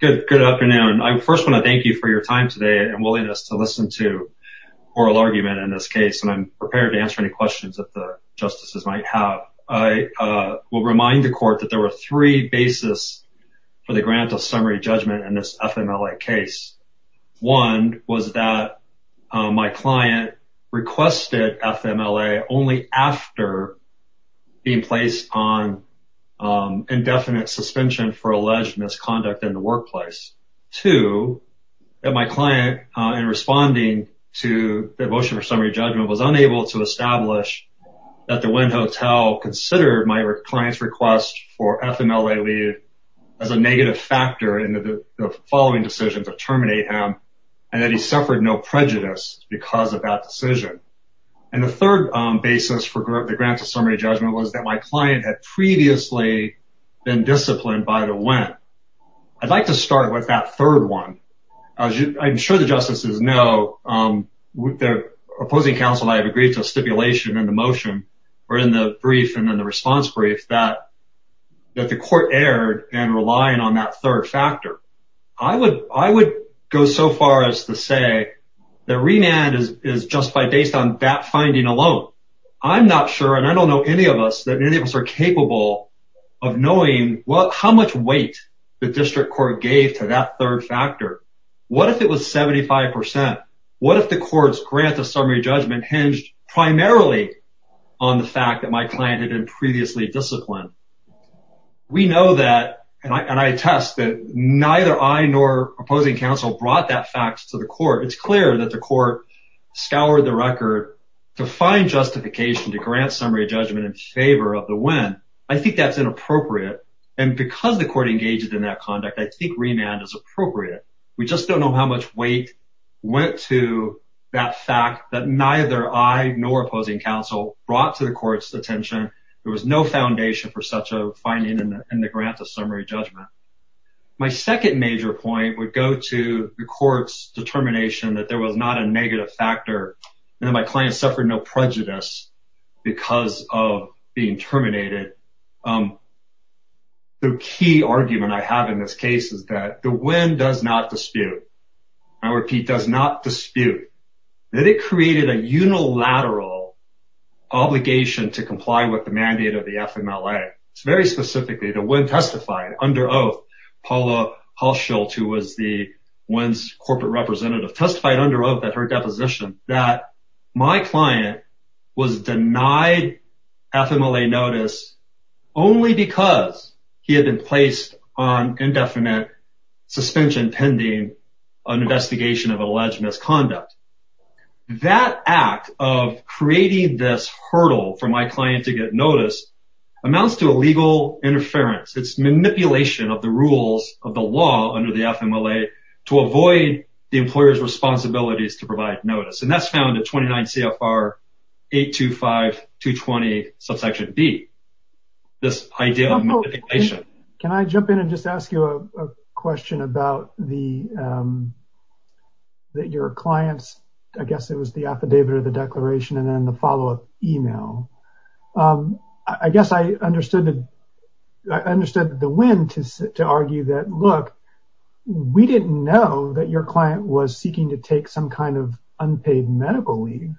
Good afternoon. I first want to thank you for your time today and willingness to listen to oral argument in this case and I'm prepared to answer any questions that the justices might have. I will remind the court that there were three basis for the grant of summary judgment in this FMLA case. One was that my client requested FMLA only after being placed on indefinite suspension for alleged misconduct in the workplace. Two, that my client in responding to the motion for summary judgment was unable to establish that the Wynn Hotel considered my client's request for FMLA leave as a negative factor in the following decision to terminate him and that he suffered no prejudice because of that decision. And the third basis for the grant of summary judgment was that my client had previously been disciplined by the Wynn. I'd like to start with that third one. I'm sure the justices know, the opposing counsel and I have agreed to a stipulation in the motion or in the brief and in the response brief that the court erred in relying on that third factor. I would go so far as to say that remand is justified based on that finding alone. I'm not sure and I don't know any of us that any of us are capable of knowing how much weight the district court gave to that third factor. What if it was 75%? What if the court's grant of summary judgment hinged primarily on the fact that my client had been previously disciplined? We know that and I attest that neither I nor opposing counsel brought that fact to the court. It's clear that the court scoured the record to find justification to grant summary judgment in favor of the Wynn. I think that's inappropriate. And because the court engaged in that conduct, I think remand is appropriate. We just don't know how much weight went to that fact that neither I nor opposing counsel brought to the court's attention. There was no foundation for such a finding in the grant of summary judgment. My second major point would go to the court's determination that there was not a negative factor and that my client suffered no prejudice because of being terminated. The key argument I have in this case is that the Wynn does not dispute. I repeat, does not dispute that it created a unilateral obligation to comply with the mandate of the FMLA. Very specifically, the Wynn testified under oath, Paula Halshult, who was the Wynn's corporate representative, testified under oath at her deposition that my client was denied FMLA notice only because he had been placed on indefinite suspension pending an investigation of alleged misconduct. That act of creating this hurdle for my client to get notice amounts to a legal interference. It's manipulation of the rules of the law under the FMLA to avoid the employer's responsibilities to provide notice. And that's found in 29 CFR 825.220 subsection B, this idea of manipulation. Can I jump in and just ask you a question about your client's, I guess it was the affidavit or the declaration and then the follow up email. I guess I understood the Wynn to argue that, look, we didn't know that your client was seeking to take some kind of unpaid medical leave.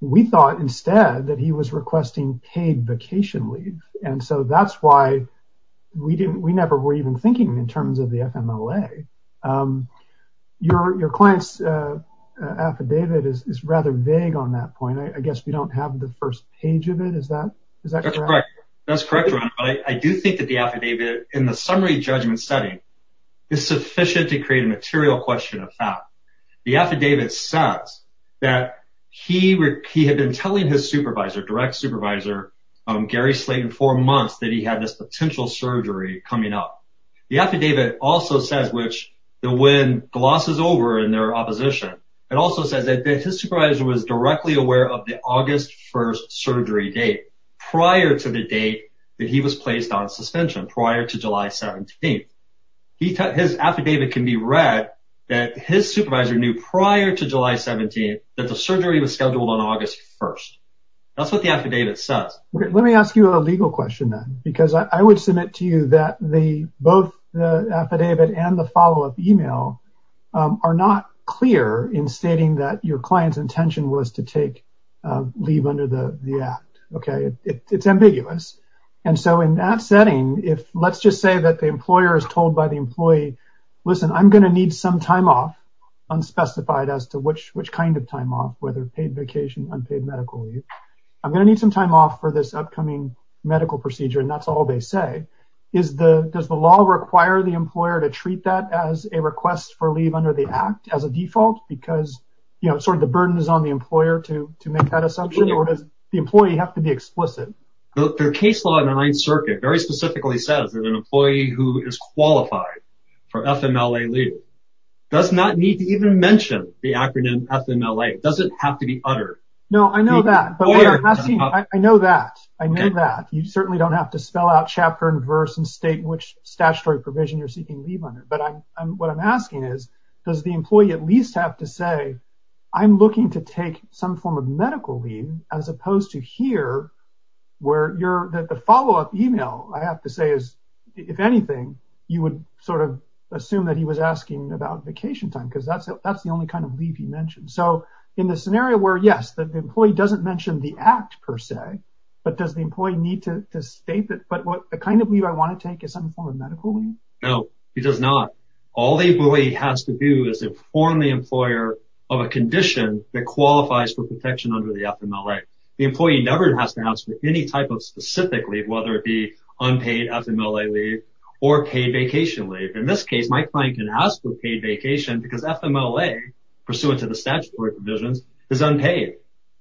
We thought instead that he was requesting paid vacation leave. And so that's why we never were even thinking in terms of the FMLA. Your client's affidavit is rather vague on that point. I guess we don't have the first page of it. Is that correct? That's correct. I do think that the affidavit in the summary judgment setting is sufficient to create a material question of fact. The affidavit says that he had been telling his supervisor, direct supervisor, Gary Slate, in four months that he had this potential surgery coming up. The affidavit also says, which the Wynn glosses over in their opposition, it also says that his supervisor was directly aware of the August 1st surgery date prior to the date that he was placed on suspension prior to July 17th. His affidavit can be read that his supervisor knew prior to July 17th that the surgery was scheduled on August 1st. That's what the affidavit says. Let me ask you a legal question, then, because I would submit to you that both the affidavit and the follow-up email are not clear in stating that your client's intention was to take leave under the act. It's ambiguous. And so in that setting, let's just say that the employer is told by the employee, listen, I'm going to need some time off, unspecified as to which kind of time off, whether paid vacation, unpaid medical leave. I'm going to need some time off for this upcoming medical procedure, and that's all they say. Does the law require the employer to treat that as a request for leave under the act as a default because, you know, sort of the burden is on the employer to make that assumption, or does the employee have to be explicit? The case law in the Ninth Circuit very specifically says that an employee who is qualified for FMLA leave does not need to even mention the acronym FMLA. It doesn't have to be uttered. No, I know that. I know that. I know that. You certainly don't have to spell out chapter and verse and state which statutory provision you're seeking leave under. But what I'm asking is, does the employee at least have to say, I'm looking to take some form of medical leave, as opposed to here, where the follow-up email, I have to say, is, if anything, you would sort of assume that he was asking about vacation time, because that's the only kind of leave he mentioned. So, in the scenario where, yes, the employee doesn't mention the act, per se, but does the employee need to state that, but what kind of leave I want to take is some form of medical leave? No, he does not. All the employee has to do is inform the employer of a condition that qualifies for protection under the FMLA. The employee never has to ask for any type of specific leave, whether it be unpaid FMLA leave or paid vacation leave. In this case, my client can ask for paid vacation because FMLA, pursuant to the statutory provisions, is unpaid.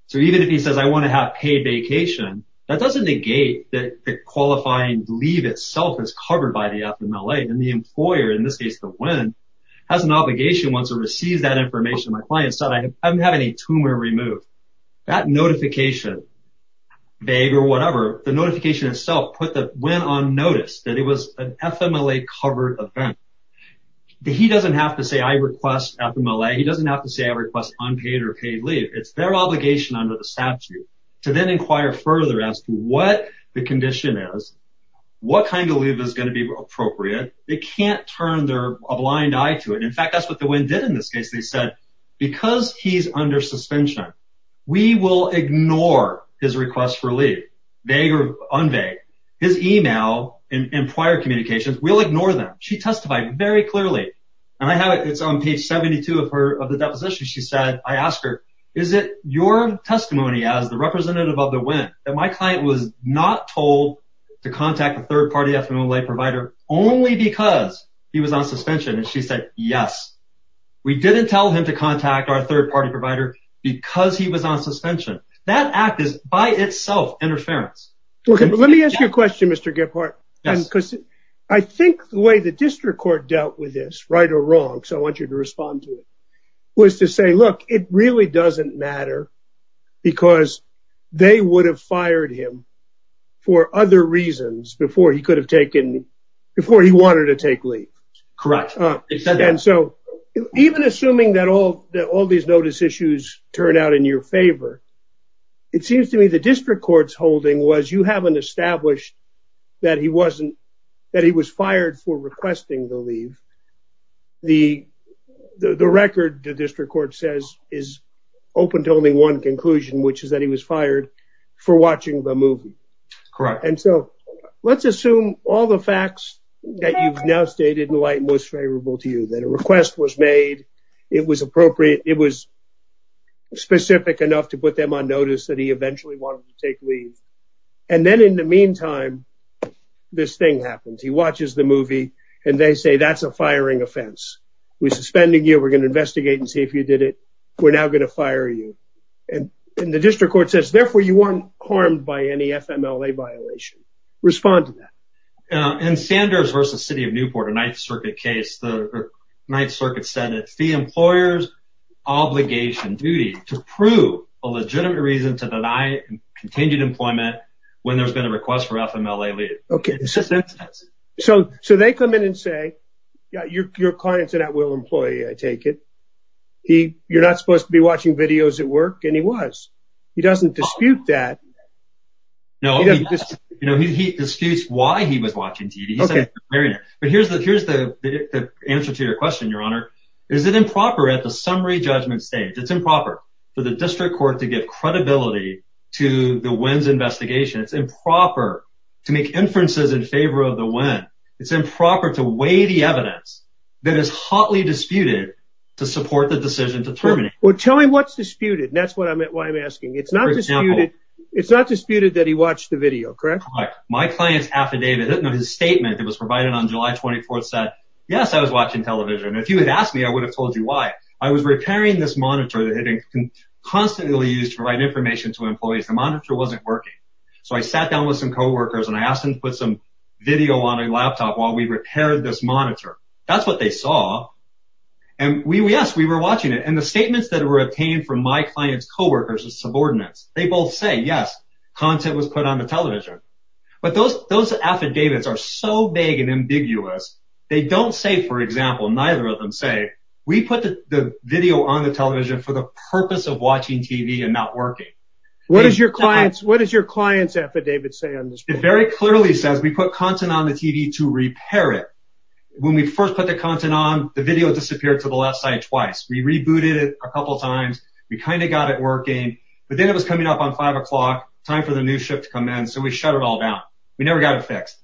So, even if he says, I want to have paid vacation, that doesn't negate that the qualifying leave itself is covered by the FMLA. And the employer, in this case, the WIN, has an obligation once it receives that information. My client said, I'm having a tumor removed. That notification, vague or whatever, the notification itself put the WIN on notice that it was an FMLA-covered event. He doesn't have to say, I request FMLA. He doesn't have to say, I request unpaid or paid leave. It's their obligation under the statute to then inquire further as to what the condition is, what kind of leave is going to be appropriate. They can't turn a blind eye to it. In fact, that's what the WIN did in this case. They said, because he's under suspension, we will ignore his request for leave, vague or unvague. His email and prior communications, we'll ignore them. She testified very clearly. And I have it. It's on page 72 of the deposition. She said, I asked her, is it your testimony as the representative of the WIN that my client was not told to contact a third-party FMLA provider only because he was on suspension? And she said, yes. We didn't tell him to contact our third-party provider because he was on suspension. That act is, by itself, interference. Let me ask you a question, Mr. Gephardt. I think the way the district court dealt with this, right or wrong, so I want you to respond to it, was to say, look, it really doesn't matter because they would have fired him for other reasons before he could have taken, before he wanted to take leave. Correct. And so even assuming that all these notice issues turn out in your favor, it seems to me the district court's holding was you haven't established that he wasn't, that he was fired for requesting the leave. The record, the district court says, is open to only one conclusion, which is that he was fired for watching the movie. Correct. And so let's assume all the facts that you've now stated in light most favorable to you, that a request was made, it was appropriate, it was specific enough to put them on notice that he eventually wanted to take leave. And then in the meantime, this thing happens. He watches the movie and they say, that's a firing offense. We're suspending you, we're going to investigate and see if you did it. We're now going to fire you. And the district court says, therefore, you weren't harmed by any FMLA violation. Respond to that. In Sanders v. City of Newport, a Ninth Circuit case, the Ninth Circuit said it's the employer's obligation, duty, to prove a legitimate reason to deny continued employment when there's been a request for FMLA leave. So they come in and say, your client's an at-will employee, I take it. You're not supposed to be watching videos at work. And he was. He doesn't dispute that. No, he disputes why he was watching TV. But here's the answer to your question, Your Honor. Is it improper at the summary judgment stage, it's improper for the district court to give credibility to the Wynn's investigation. It's improper to make inferences in favor of the Wynn. It's improper to weigh the evidence that is hotly disputed to support the decision to terminate. Well, tell me what's disputed. That's why I'm asking. It's not disputed that he watched the video, correct? Correct. My client's affidavit, his statement that was provided on July 24th said, yes, I was watching television. If you had asked me, I would have told you why. I was repairing this monitor that had been constantly used to provide information to employees. The monitor wasn't working. So I sat down with some co-workers and I asked them to put some video on a laptop while we repaired this monitor. That's what they saw. And yes, we were watching it. And the statements that were obtained from my client's co-workers and subordinates, they both say, yes, content was put on the television. But those affidavits are so vague and ambiguous, they don't say, for example, neither of them say, we put the video on the television for the purpose of watching TV and not working. What does your client's affidavit say on this? It very clearly says we put content on the TV to repair it. When we first put the content on, the video disappeared to the left side twice. We rebooted it a couple of times. We kind of got it working. But then it was coming up on five o'clock, time for the new shift to come in. So we shut it all down. We never got it fixed.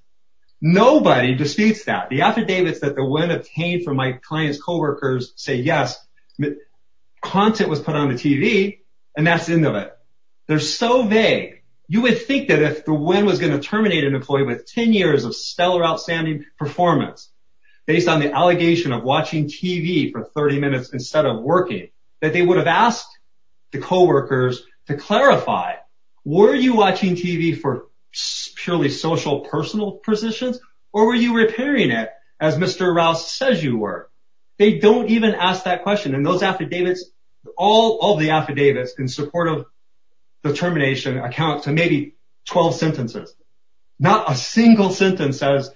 Nobody disputes that. The affidavits that the wind obtained from my client's co-workers say, yes, content was put on the TV and that's the end of it. They're so vague. You would think that if the wind was going to terminate an employee with 10 years of stellar, outstanding performance based on the allegation of watching TV for 30 minutes instead of working, that they would have asked the co-workers to clarify. Were you watching TV for purely social, personal positions or were you repairing it as Mr. Rouse says you were? They don't even ask that question. And those affidavits, all of the affidavits in support of the termination account to maybe 12 sentences. Not a single sentence says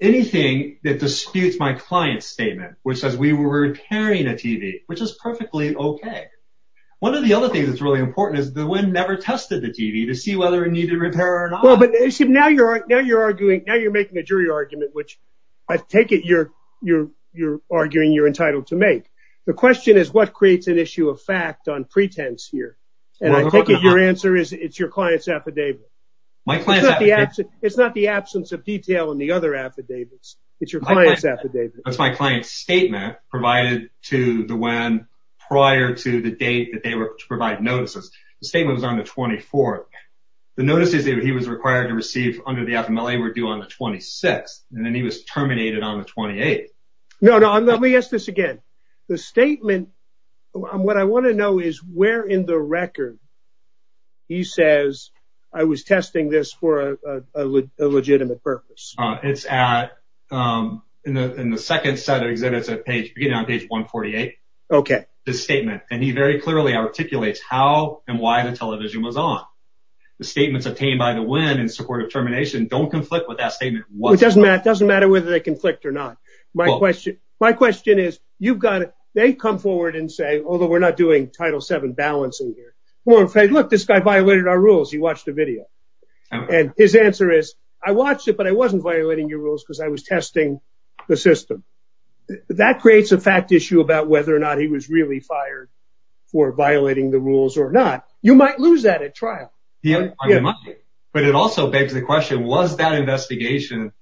anything that disputes my client's statement, which says we were repairing a TV, which is perfectly okay. One of the other things that's really important is the wind never tested the TV to see whether it needed repair or not. Now you're making a jury argument, which I take it you're arguing you're entitled to make. The question is what creates an issue of fact on pretense here? And I think your answer is it's your client's affidavit. It's not the absence of detail in the other affidavits. It's your client's affidavit. That's my client's statement provided to the WEN prior to the date that they were to provide notices. The statement was on the 24th. The notices that he was required to receive under the FMLA were due on the 26th and then he was terminated on the 28th. No, no, let me ask this again. The statement, what I want to know is where in the record he says I was testing this for a legitimate purpose. It's at, in the second set of exhibits at page, beginning on page 148. Okay. The statement, and he very clearly articulates how and why the television was on. The statements obtained by the WEN in support of termination don't conflict with that statement. It doesn't matter. It doesn't matter whether they conflict or not. My question, my question is you've got it. They come forward and say, although we're not doing Title VII balancing here. Look, this guy violated our rules. He watched the video. And his answer is I watched it, but I wasn't violating your rules because I was testing the system. That creates a fact issue about whether or not he was really fired for violating the rules or not. You might lose that at trial. But it also begs the question, was that investigation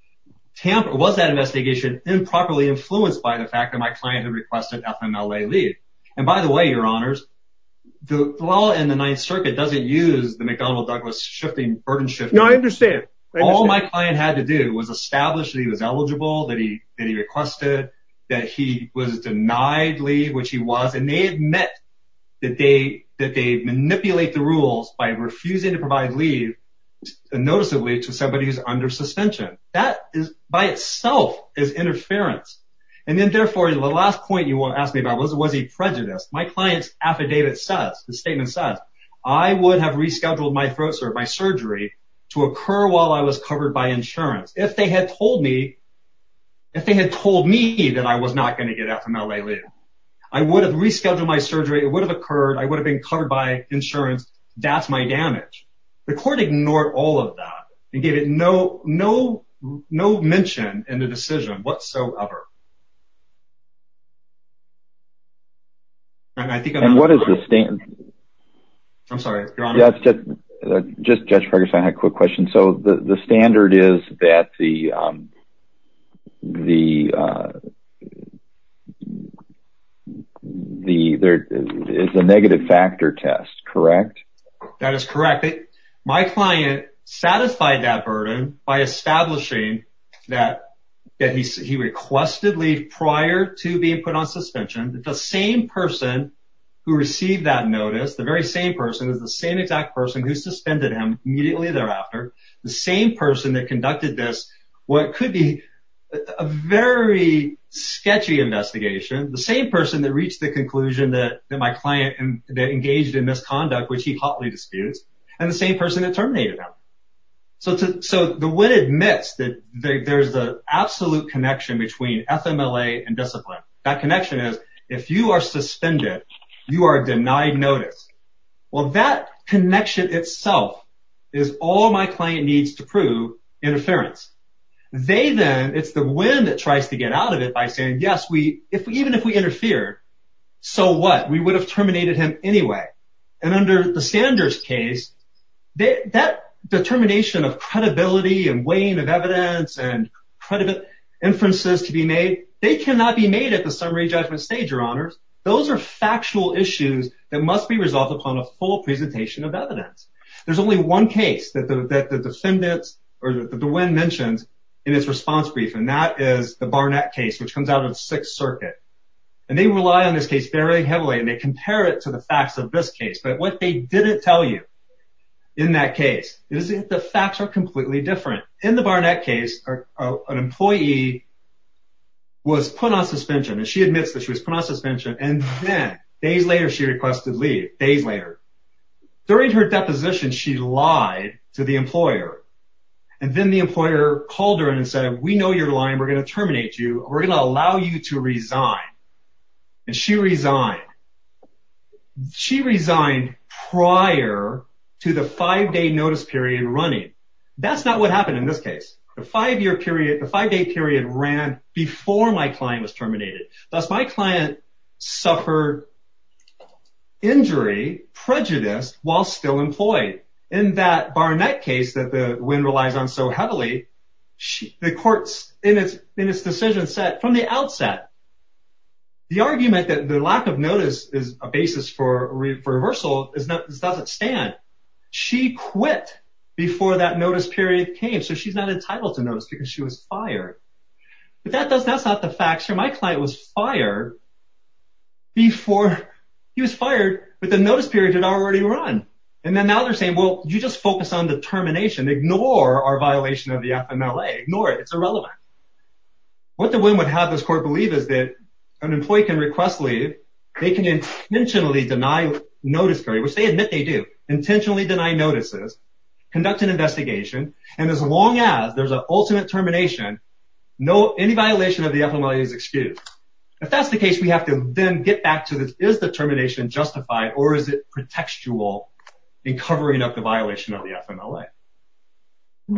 tamper, was that investigation improperly influenced by the fact that my client had requested FMLA leave? And by the way, your honors, the law in the Ninth Circuit doesn't use the McDonnell Douglas shifting burden shift. No, I understand. All my client had to do was establish that he was eligible, that he requested, that he was denied leave, which he was, and they admit that they manipulate the rules by refusing to provide leave noticeably to somebody who's under suspension. That by itself is interference. And then therefore, the last point you want to ask me about was, was he prejudiced? My client's affidavit says, the statement says, I would have rescheduled my throat surgery, my surgery to occur while I was covered by insurance. If they had told me, if they had told me that I was not going to get FMLA leave, I would have rescheduled my surgery. It would have occurred. I would have been covered by insurance. That's my damage. The court ignored all of that and gave it no, no, no mention in the decision whatsoever. I think what is the standard? I'm sorry. Just just for a quick question. So the standard is that the the the there is a negative factor test, correct? That is correct. My client satisfied that burden by establishing that he requested leave prior to being put on suspension. The same person who received that notice, the very same person is the same exact person who suspended him immediately thereafter. The same person that conducted this, what could be a very sketchy investigation, the same person that reached the conclusion that my client engaged in misconduct, which he hotly disputes, and the same person that terminated him. So so the witness admits that there's the absolute connection between FMLA and discipline. That connection is if you are suspended, you are denied notice. Well, that connection itself is all my client needs to prove interference. They then it's the wind that tries to get out of it by saying, yes, we if even if we interfere, so what we would have terminated him anyway. And under the standards case, that determination of credibility and weighing of evidence and credible inferences to be made, they cannot be made at the summary judgment stage, your honors. Those are factual issues that must be resolved upon a full presentation of evidence. There's only one case that the defendants or the wind mentions in its response brief. And that is the Barnett case, which comes out of Sixth Circuit. And they rely on this case very heavily and they compare it to the facts of this case. But what they didn't tell you in that case is the facts are completely different. In the Barnett case, an employee was put on suspension and she admits that she was put on suspension. And then days later, she requested leave days later. During her deposition, she lied to the employer and then the employer called her and said, we know you're lying. We're going to terminate you. We're going to allow you to resign. And she resigned. She resigned prior to the five day notice period running. That's not what happened in this case. The five year period, the five day period ran before my client was terminated. That's my client suffered injury, prejudice while still employed in that Barnett case that the wind relies on so heavily. The courts in its in its decision set from the outset. The argument that the lack of notice is a basis for reversal is that this doesn't stand. She quit before that notice period came. So she's not entitled to notice because she was fired. But that's not the facts. My client was fired before he was fired. But the notice period had already run. And then now they're saying, well, you just focus on the termination. Ignore our violation of the FMLA. Ignore it. It's irrelevant. What the wind would have this court believe is that an employee can request leave. They can intentionally deny notice, which they admit they do intentionally deny notices, conduct an investigation. And as long as there's an ultimate termination, no, any violation of the FMLA is excused. If that's the case, we have to then get back to this. Is the termination justified or is it pretextual in covering up the violation of the FMLA?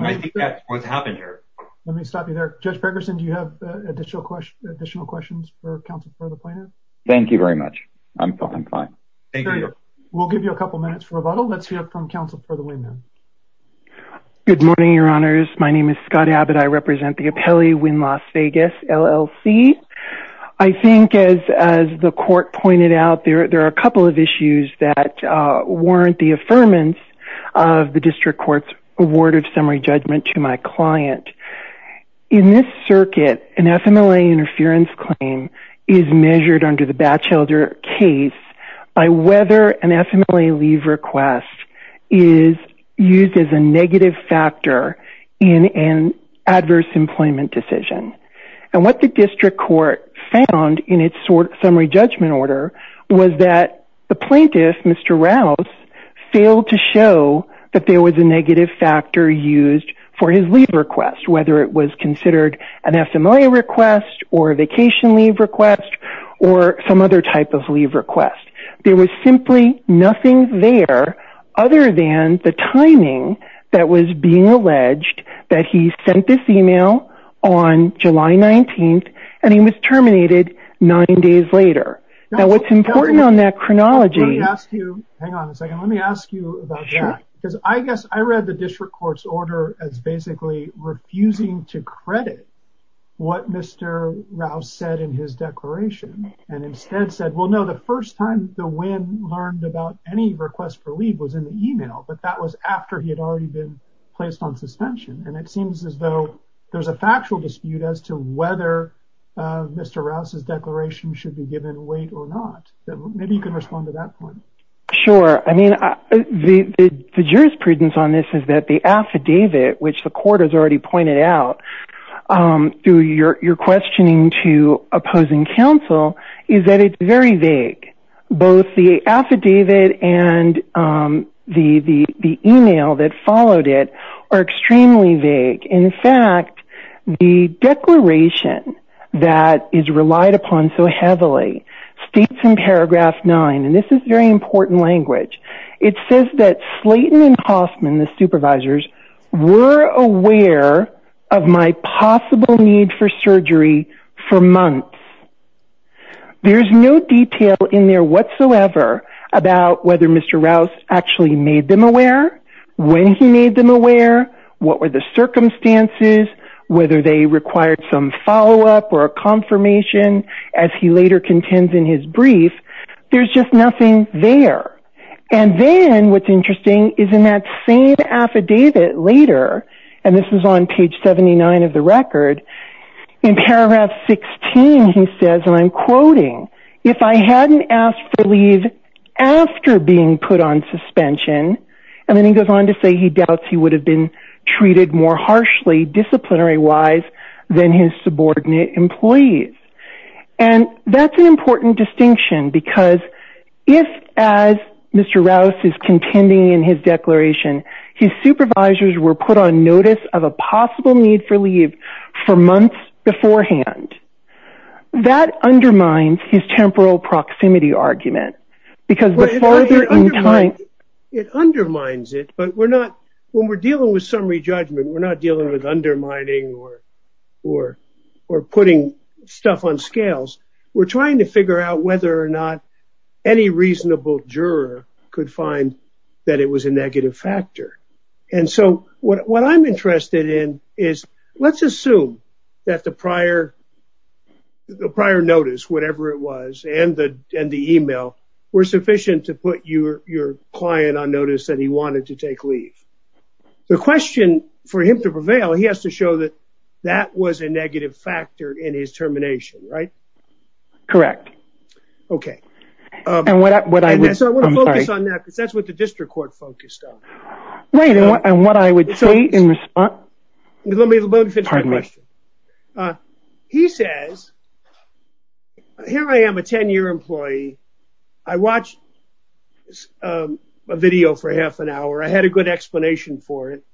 I think that's what's happened here. Let me stop you there. Judge Ferguson, do you have additional questions for counsel for the plaintiff? Thank you very much. I'm fine. Thank you. We'll give you a couple minutes for rebuttal. Let's hear from counsel for the women. Good morning, Your Honors. My name is Scott Abbott. I represent the appellee in Las Vegas, LLC. I think, as the court pointed out, there are a couple of issues that warrant the affirmance of the district court's award of summary judgment to my client. In this circuit, an FMLA interference claim is measured under the Batchelder case by whether an FMLA leave request is used as a negative factor in an adverse employment decision. What the district court found in its summary judgment order was that the plaintiff, Mr. Rouse, failed to show that there was a negative factor used for his leave request, whether it was considered an FMLA request or a vacation leave request or some other type of leave request. There was simply nothing there other than the timing that was being alleged that he sent this email on July 19th, and he was terminated nine days later. Now, what's important on that chronology... Let me ask you... Hang on a second. Let me ask you about that. Sure. Because I guess I read the district court's order as basically refusing to credit what Mr. Rouse said in his declaration, and instead said, well, no, the first time the win learned about any request for leave was in the email, but that was after he had already been placed on suspension. And it seems as though there's a factual dispute as to whether Mr. Rouse's declaration should be given weight or not. Maybe you can respond to that point. Sure. I mean, the jurisprudence on this is that the affidavit, which the court has already pointed out through your questioning to opposing counsel, is that it's very vague. Both the affidavit and the email that followed it are extremely vague. In fact, the declaration that is relied upon so heavily states in paragraph 9, and this is very important language, it says that Slayton and Hoffman, the supervisors, were aware of my possible need for surgery for months. There's no detail in there whatsoever about whether Mr. Rouse actually made them aware, when he made them aware, what were the circumstances, whether they required some follow-up or a confirmation, as he later contends in his brief. There's just nothing there. And then what's interesting is in that same affidavit later, and this is on page 79 of the record, in paragraph 16 he says, and I'm quoting, if I hadn't asked for leave after being put on suspension, and then he goes on to say he doubts he would have been treated more harshly disciplinary-wise than his subordinate employees. And that's an important distinction, because if, as Mr. Rouse is contending in his declaration, his supervisors were put on notice of a possible need for leave for months beforehand, that undermines his temporal proximity argument. It undermines it, but we're not, when we're dealing with summary judgment, we're not dealing with undermining or putting stuff on scales. We're trying to figure out whether or not any reasonable juror could find that it was a negative factor. And so what I'm interested in is, let's assume that the prior notice, whatever it was, and the email, were sufficient to put your client on notice that he wanted to take leave. The question for him to prevail, he has to show that that was a negative factor in his termination, right? Correct. Okay. And so I want to focus on that, because that's what the district court focused on. Right, and what I would say in response... Let me finish my question. He says, here I am, a 10-year employee. I watched a video for half an hour. I had a good explanation for it.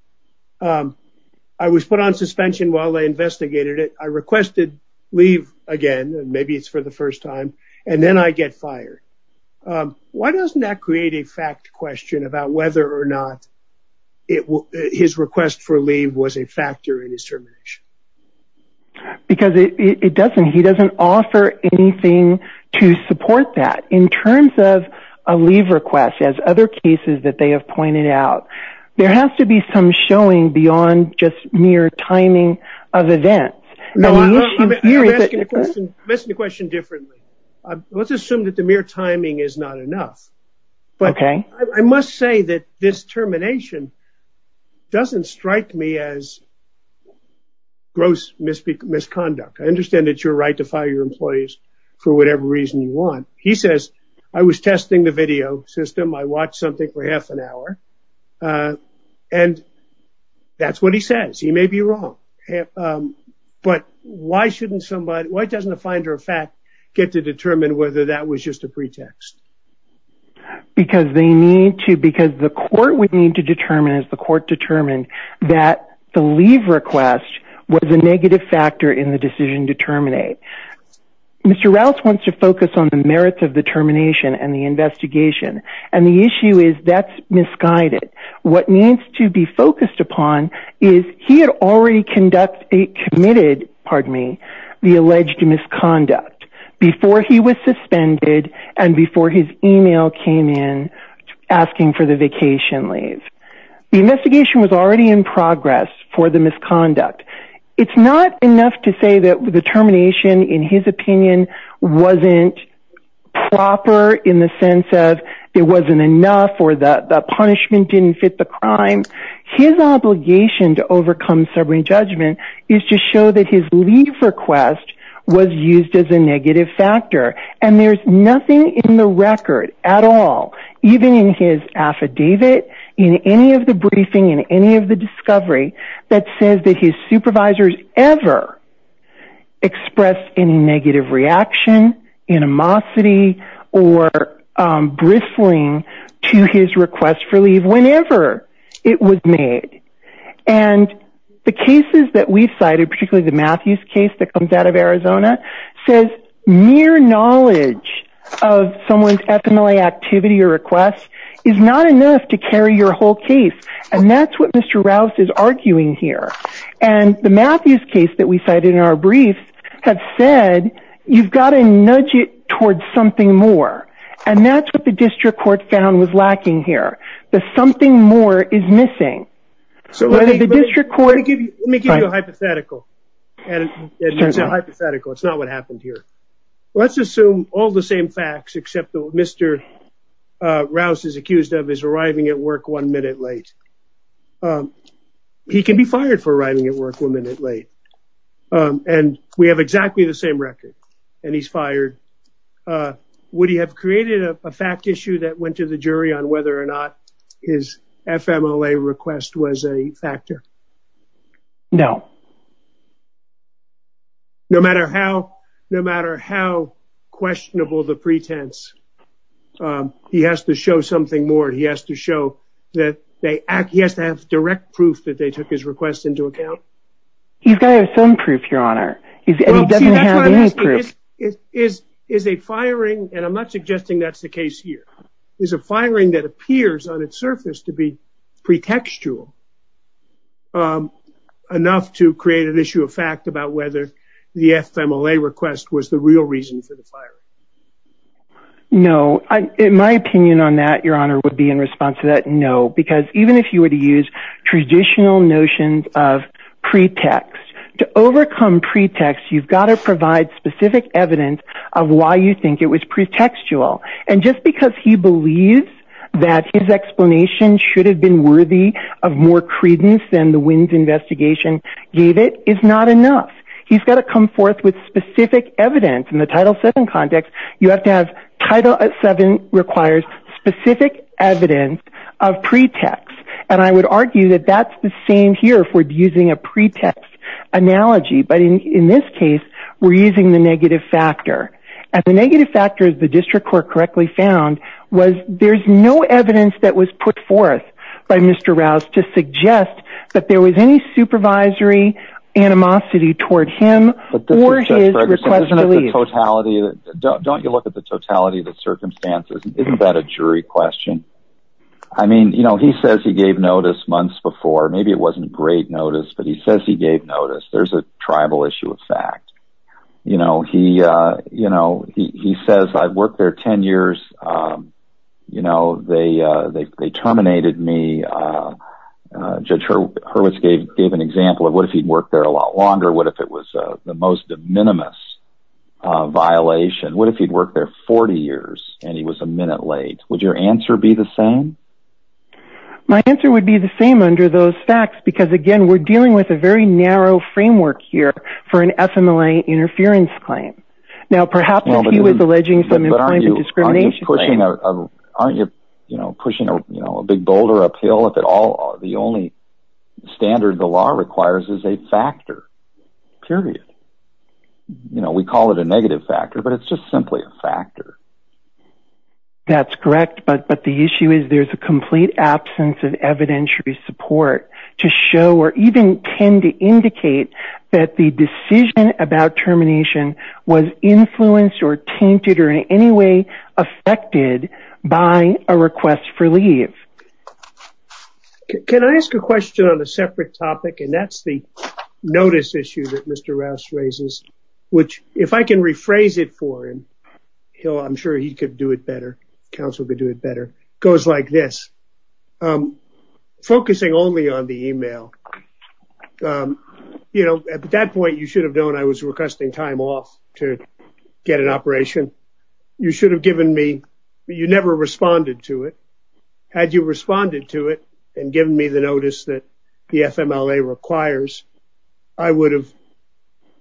I was put on suspension while they investigated it. I requested leave again, and maybe it's for the first time, and then I get fired. Why doesn't that create a fact question about whether or not his request for leave was a factor in his termination? Because he doesn't offer anything to support that. In terms of a leave request, as other cases that they have pointed out, there has to be some showing beyond just mere timing of events. No, I'm asking the question differently. Let's assume that the mere timing is not enough. Okay. But I must say that this termination doesn't strike me as gross misconduct. I understand that it's your right to fire your employees for whatever reason you want. He says, I was testing the video system. I watched something for half an hour. And that's what he says. He may be wrong. But why doesn't a finder of fact get to determine whether that was just a pretext? Because the court would need to determine, as the court determined, that the leave request was a negative factor in the decision to terminate. Mr. Rouse wants to focus on the merits of the termination and the investigation. And the issue is that's misguided. What needs to be focused upon is he had already committed the alleged misconduct before he was suspended and before his email came in asking for the vacation leave. The investigation was already in progress for the misconduct. It's not enough to say that the termination, in his opinion, wasn't proper in the sense of it wasn't enough or the punishment didn't fit the crime. His obligation to overcome sobering judgment is to show that his leave request was used as a negative factor. And there's nothing in the record at all, even in his affidavit, in any of the briefing, in any of the discovery, that says that his supervisors ever expressed any negative reaction, animosity, or bristling to his request for leave whenever it was made. And the cases that we've cited, particularly the Matthews case that comes out of Arizona, says mere knowledge of someone's FMLA activity or request is not enough to carry your whole case. And that's what Mr. Rouse is arguing here. And the Matthews case that we cited in our brief has said, you've got to nudge it towards something more. And that's what the district court found was lacking here. The something more is missing. Let me give you a hypothetical. It's not what happened here. Let's assume all the same facts, except that what Mr. Rouse is accused of is arriving at work one minute late. He can be fired for arriving at work one minute late. And we have exactly the same record, and he's fired. Would he have created a fact issue that went to the jury on whether or not his FMLA request was a factor? No. No matter how questionable the pretense, he has to show something more. He has to show that they act. He has to have direct proof that they took his request into account. He's got to have some proof, Your Honor. He doesn't have any proof. Is a firing, and I'm not suggesting that's the case here, is a firing that appears on its surface to be pretextual, enough to create an issue of fact about whether the FMLA request was the real reason for the firing? No. In my opinion on that, Your Honor, would be in response to that, no. Because even if you were to use traditional notions of pretext, to overcome pretext, you've got to provide specific evidence of why you think it was pretextual. And just because he believes that his explanation should have been worthy of more credence than the WINS investigation gave it, is not enough. He's got to come forth with specific evidence. In the Title VII context, you have to have Title VII requires specific evidence of pretext. And I would argue that that's the same here if we're using a pretext analogy, but in this case, we're using the negative factor. And the negative factor, as the district court correctly found, was there's no evidence that was put forth by Mr. Rouse to suggest that there was any supervisory animosity toward him or his request to leave. Don't you look at the totality of the circumstances? Isn't that a jury question? I mean, you know, he says he gave notice months before. Maybe it wasn't great notice, but he says he gave notice. There's a tribal issue of fact. You know, he says, I've worked there 10 years. You know, they terminated me. Judge Hurwitz gave an example of what if he'd worked there a lot longer? What if it was the most de minimis violation? What if he'd worked there 40 years and he was a minute late? Would your answer be the same? My answer would be the same under those facts because, again, we're dealing with a very narrow framework here for an FMLA interference claim. Now, perhaps if he was alleging some employment discrimination claim. Aren't you pushing a big boulder uphill if the only standard the law requires is a factor, period? You know, we call it a negative factor, but it's just simply a factor. That's correct, but the issue is there's a complete absence of evidentiary support to show or even tend to indicate that the decision about termination was influenced or tainted or in any way affected by a request for leave. Can I ask a question on a separate topic? And that's the notice issue that Mr. Rouse raises, which if I can rephrase it for him, I'm sure he could do it better, counsel could do it better, goes like this. Focusing only on the email, you know, at that point you should have known I was requesting time off to get an operation. You should have given me, but you never responded to it. Had you responded to it and given me the notice that the FMLA requires, I would have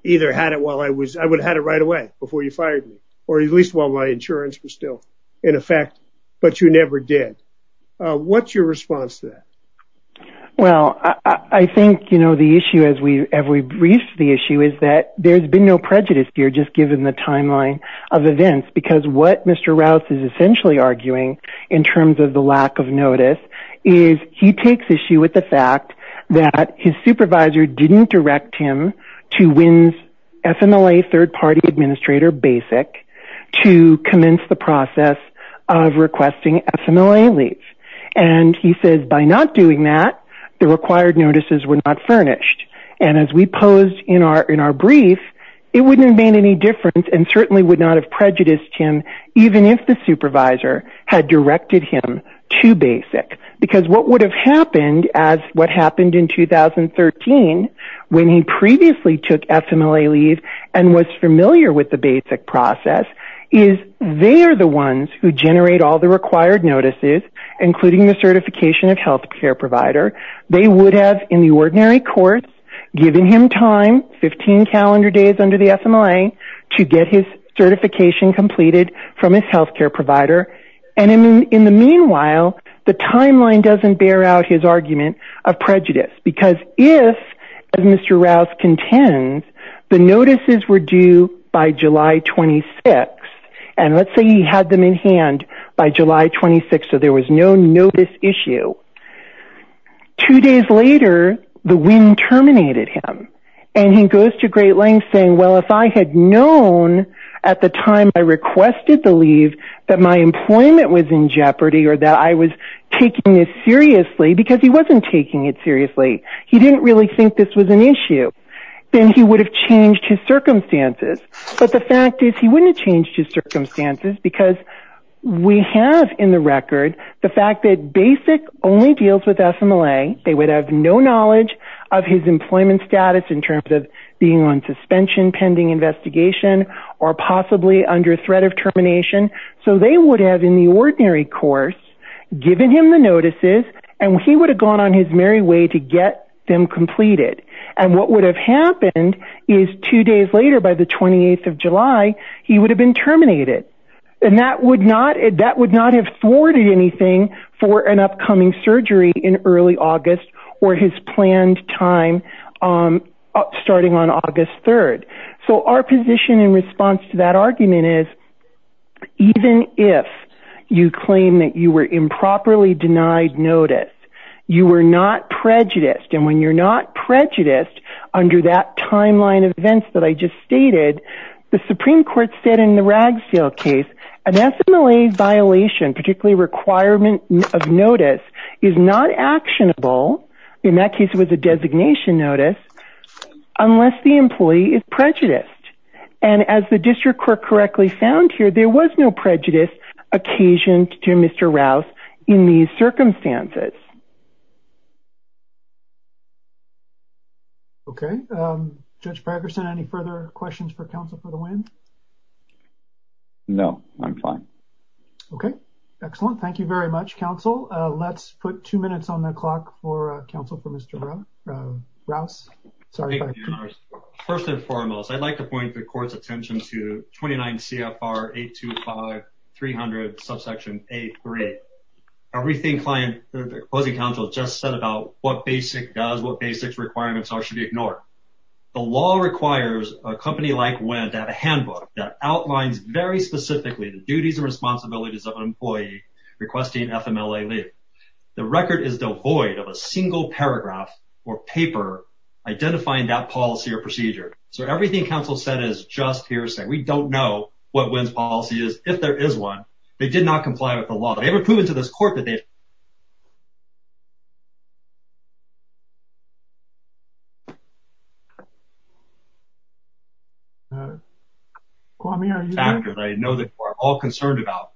either had it while I was, I would have had it right away before you fired me or at least while my insurance was still in effect. But you never did. What's your response to that? Well, I think, you know, the issue as we briefed the issue is that there's been no prejudice here just given the timeline of events, because what Mr. Rouse is essentially arguing in terms of the lack of notice is he takes issue with the fact that his supervisor didn't direct him to WINS FMLA third-party administrator BASIC to commence the process of requesting FMLA leave. And he says by not doing that, the required notices were not furnished. And as we posed in our brief, it wouldn't have made any difference and certainly would not have prejudiced him even if the supervisor had directed him to BASIC. Because what would have happened as what happened in 2013 when he previously took FMLA leave and was familiar with the BASIC process is they are the ones who generate all the required notices, including the certification of health care provider. They would have, in the ordinary courts, given him time, 15 calendar days under the FMLA, to get his certification completed from his health care provider. And in the meanwhile, the timeline doesn't bear out his argument of prejudice. Because if, as Mr. Rouse contends, the notices were due by July 26, and let's say he had them in hand by July 26, so there was no notice issue. Two days later, the WINS terminated him. And he goes to great lengths saying, well, if I had known at the time I requested the leave that my employment was in jeopardy or that I was taking this seriously, because he wasn't taking it seriously, he didn't really think this was an issue, then he would have changed his circumstances. But the fact is he wouldn't have changed his circumstances because we have in the record the fact that BASIC only deals with FMLA. They would have no knowledge of his employment status in terms of being on suspension, pending investigation, or possibly under threat of termination. So they would have, in the ordinary course, given him the notices, and he would have gone on his merry way to get them completed. And what would have happened is two days later, by the 28th of July, he would have been terminated. And that would not have thwarted anything for an upcoming surgery in early August or his planned time starting on August 3rd. So our position in response to that argument is, even if you claim that you were improperly denied notice, you were not prejudiced. And when you're not prejudiced under that timeline of events that I just stated, the Supreme Court said in the Ragsdale case, an FMLA violation, particularly a requirement of notice, is not actionable, in that case it was a designation notice, unless the employee is prejudiced. And as the district court correctly found here, there was no prejudice occasioned to Mr. Rouse in these circumstances. Okay. Judge Fragerson, any further questions for counsel for the win? No, I'm fine. Okay. Excellent. Thank you very much, counsel. Let's put two minutes on the clock for counsel for Mr. Rouse. First and foremost, I'd like to point the court's attention to 29 CFR 825-300, subsection A3. Everything the opposing counsel just said about what BASIC does, what BASIC's requirements are, should be ignored. The law requires a company like WIN to have a handbook that outlines very specifically the duties and responsibilities of an employee requesting FMLA leave. The record is devoid of a single paragraph or paper identifying that policy or procedure. So everything counsel said is just hearsay. We don't know what WIN's policy is. If there is one, they did not comply with the law. Have they ever proven to this court that they have? I know that we're all concerned about.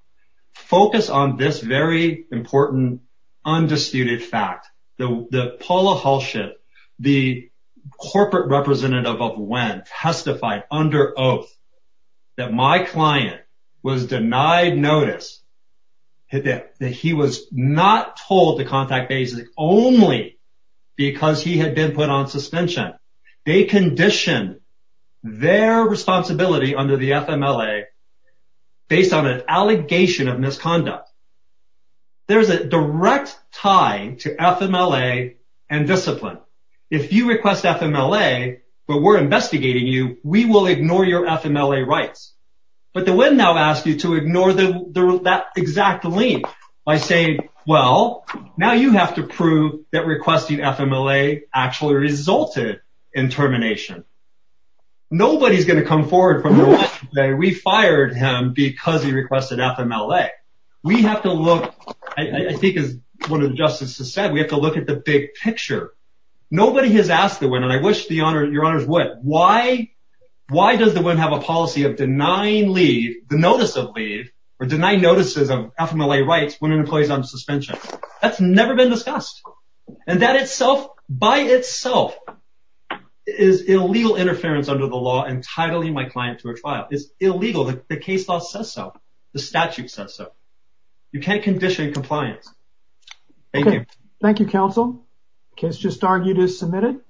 Focus on this very important, undisputed fact, that Paula Hulshut, the corporate representative of WIN testified under oath that my client was not told to contact BASIC only because he had been put on suspension. They conditioned their responsibility under the FMLA based on an allegation of misconduct. There's a direct tie to FMLA and discipline. If you request FMLA but we're investigating you, we will ignore your FMLA rights. But the WIN now asks you to ignore that exact link by saying, well, now you have to prove that requesting FMLA actually resulted in termination. Nobody's going to come forward from the left and say we fired him because he requested FMLA. We have to look, I think as one of the justices said, we have to look at the big picture. Nobody has asked the WIN, and I wish your honors would, why does the WIN have a policy of denying leave, the notice of leave, or denying notices of FMLA rights when an employee is on suspension? That's never been discussed. And that itself, by itself, is illegal interference under the law in titling my client to a trial. It's illegal. The case law says so. The statute says so. You can't condition compliance. Thank you. Thank you, counsel. Case just argued is submitted.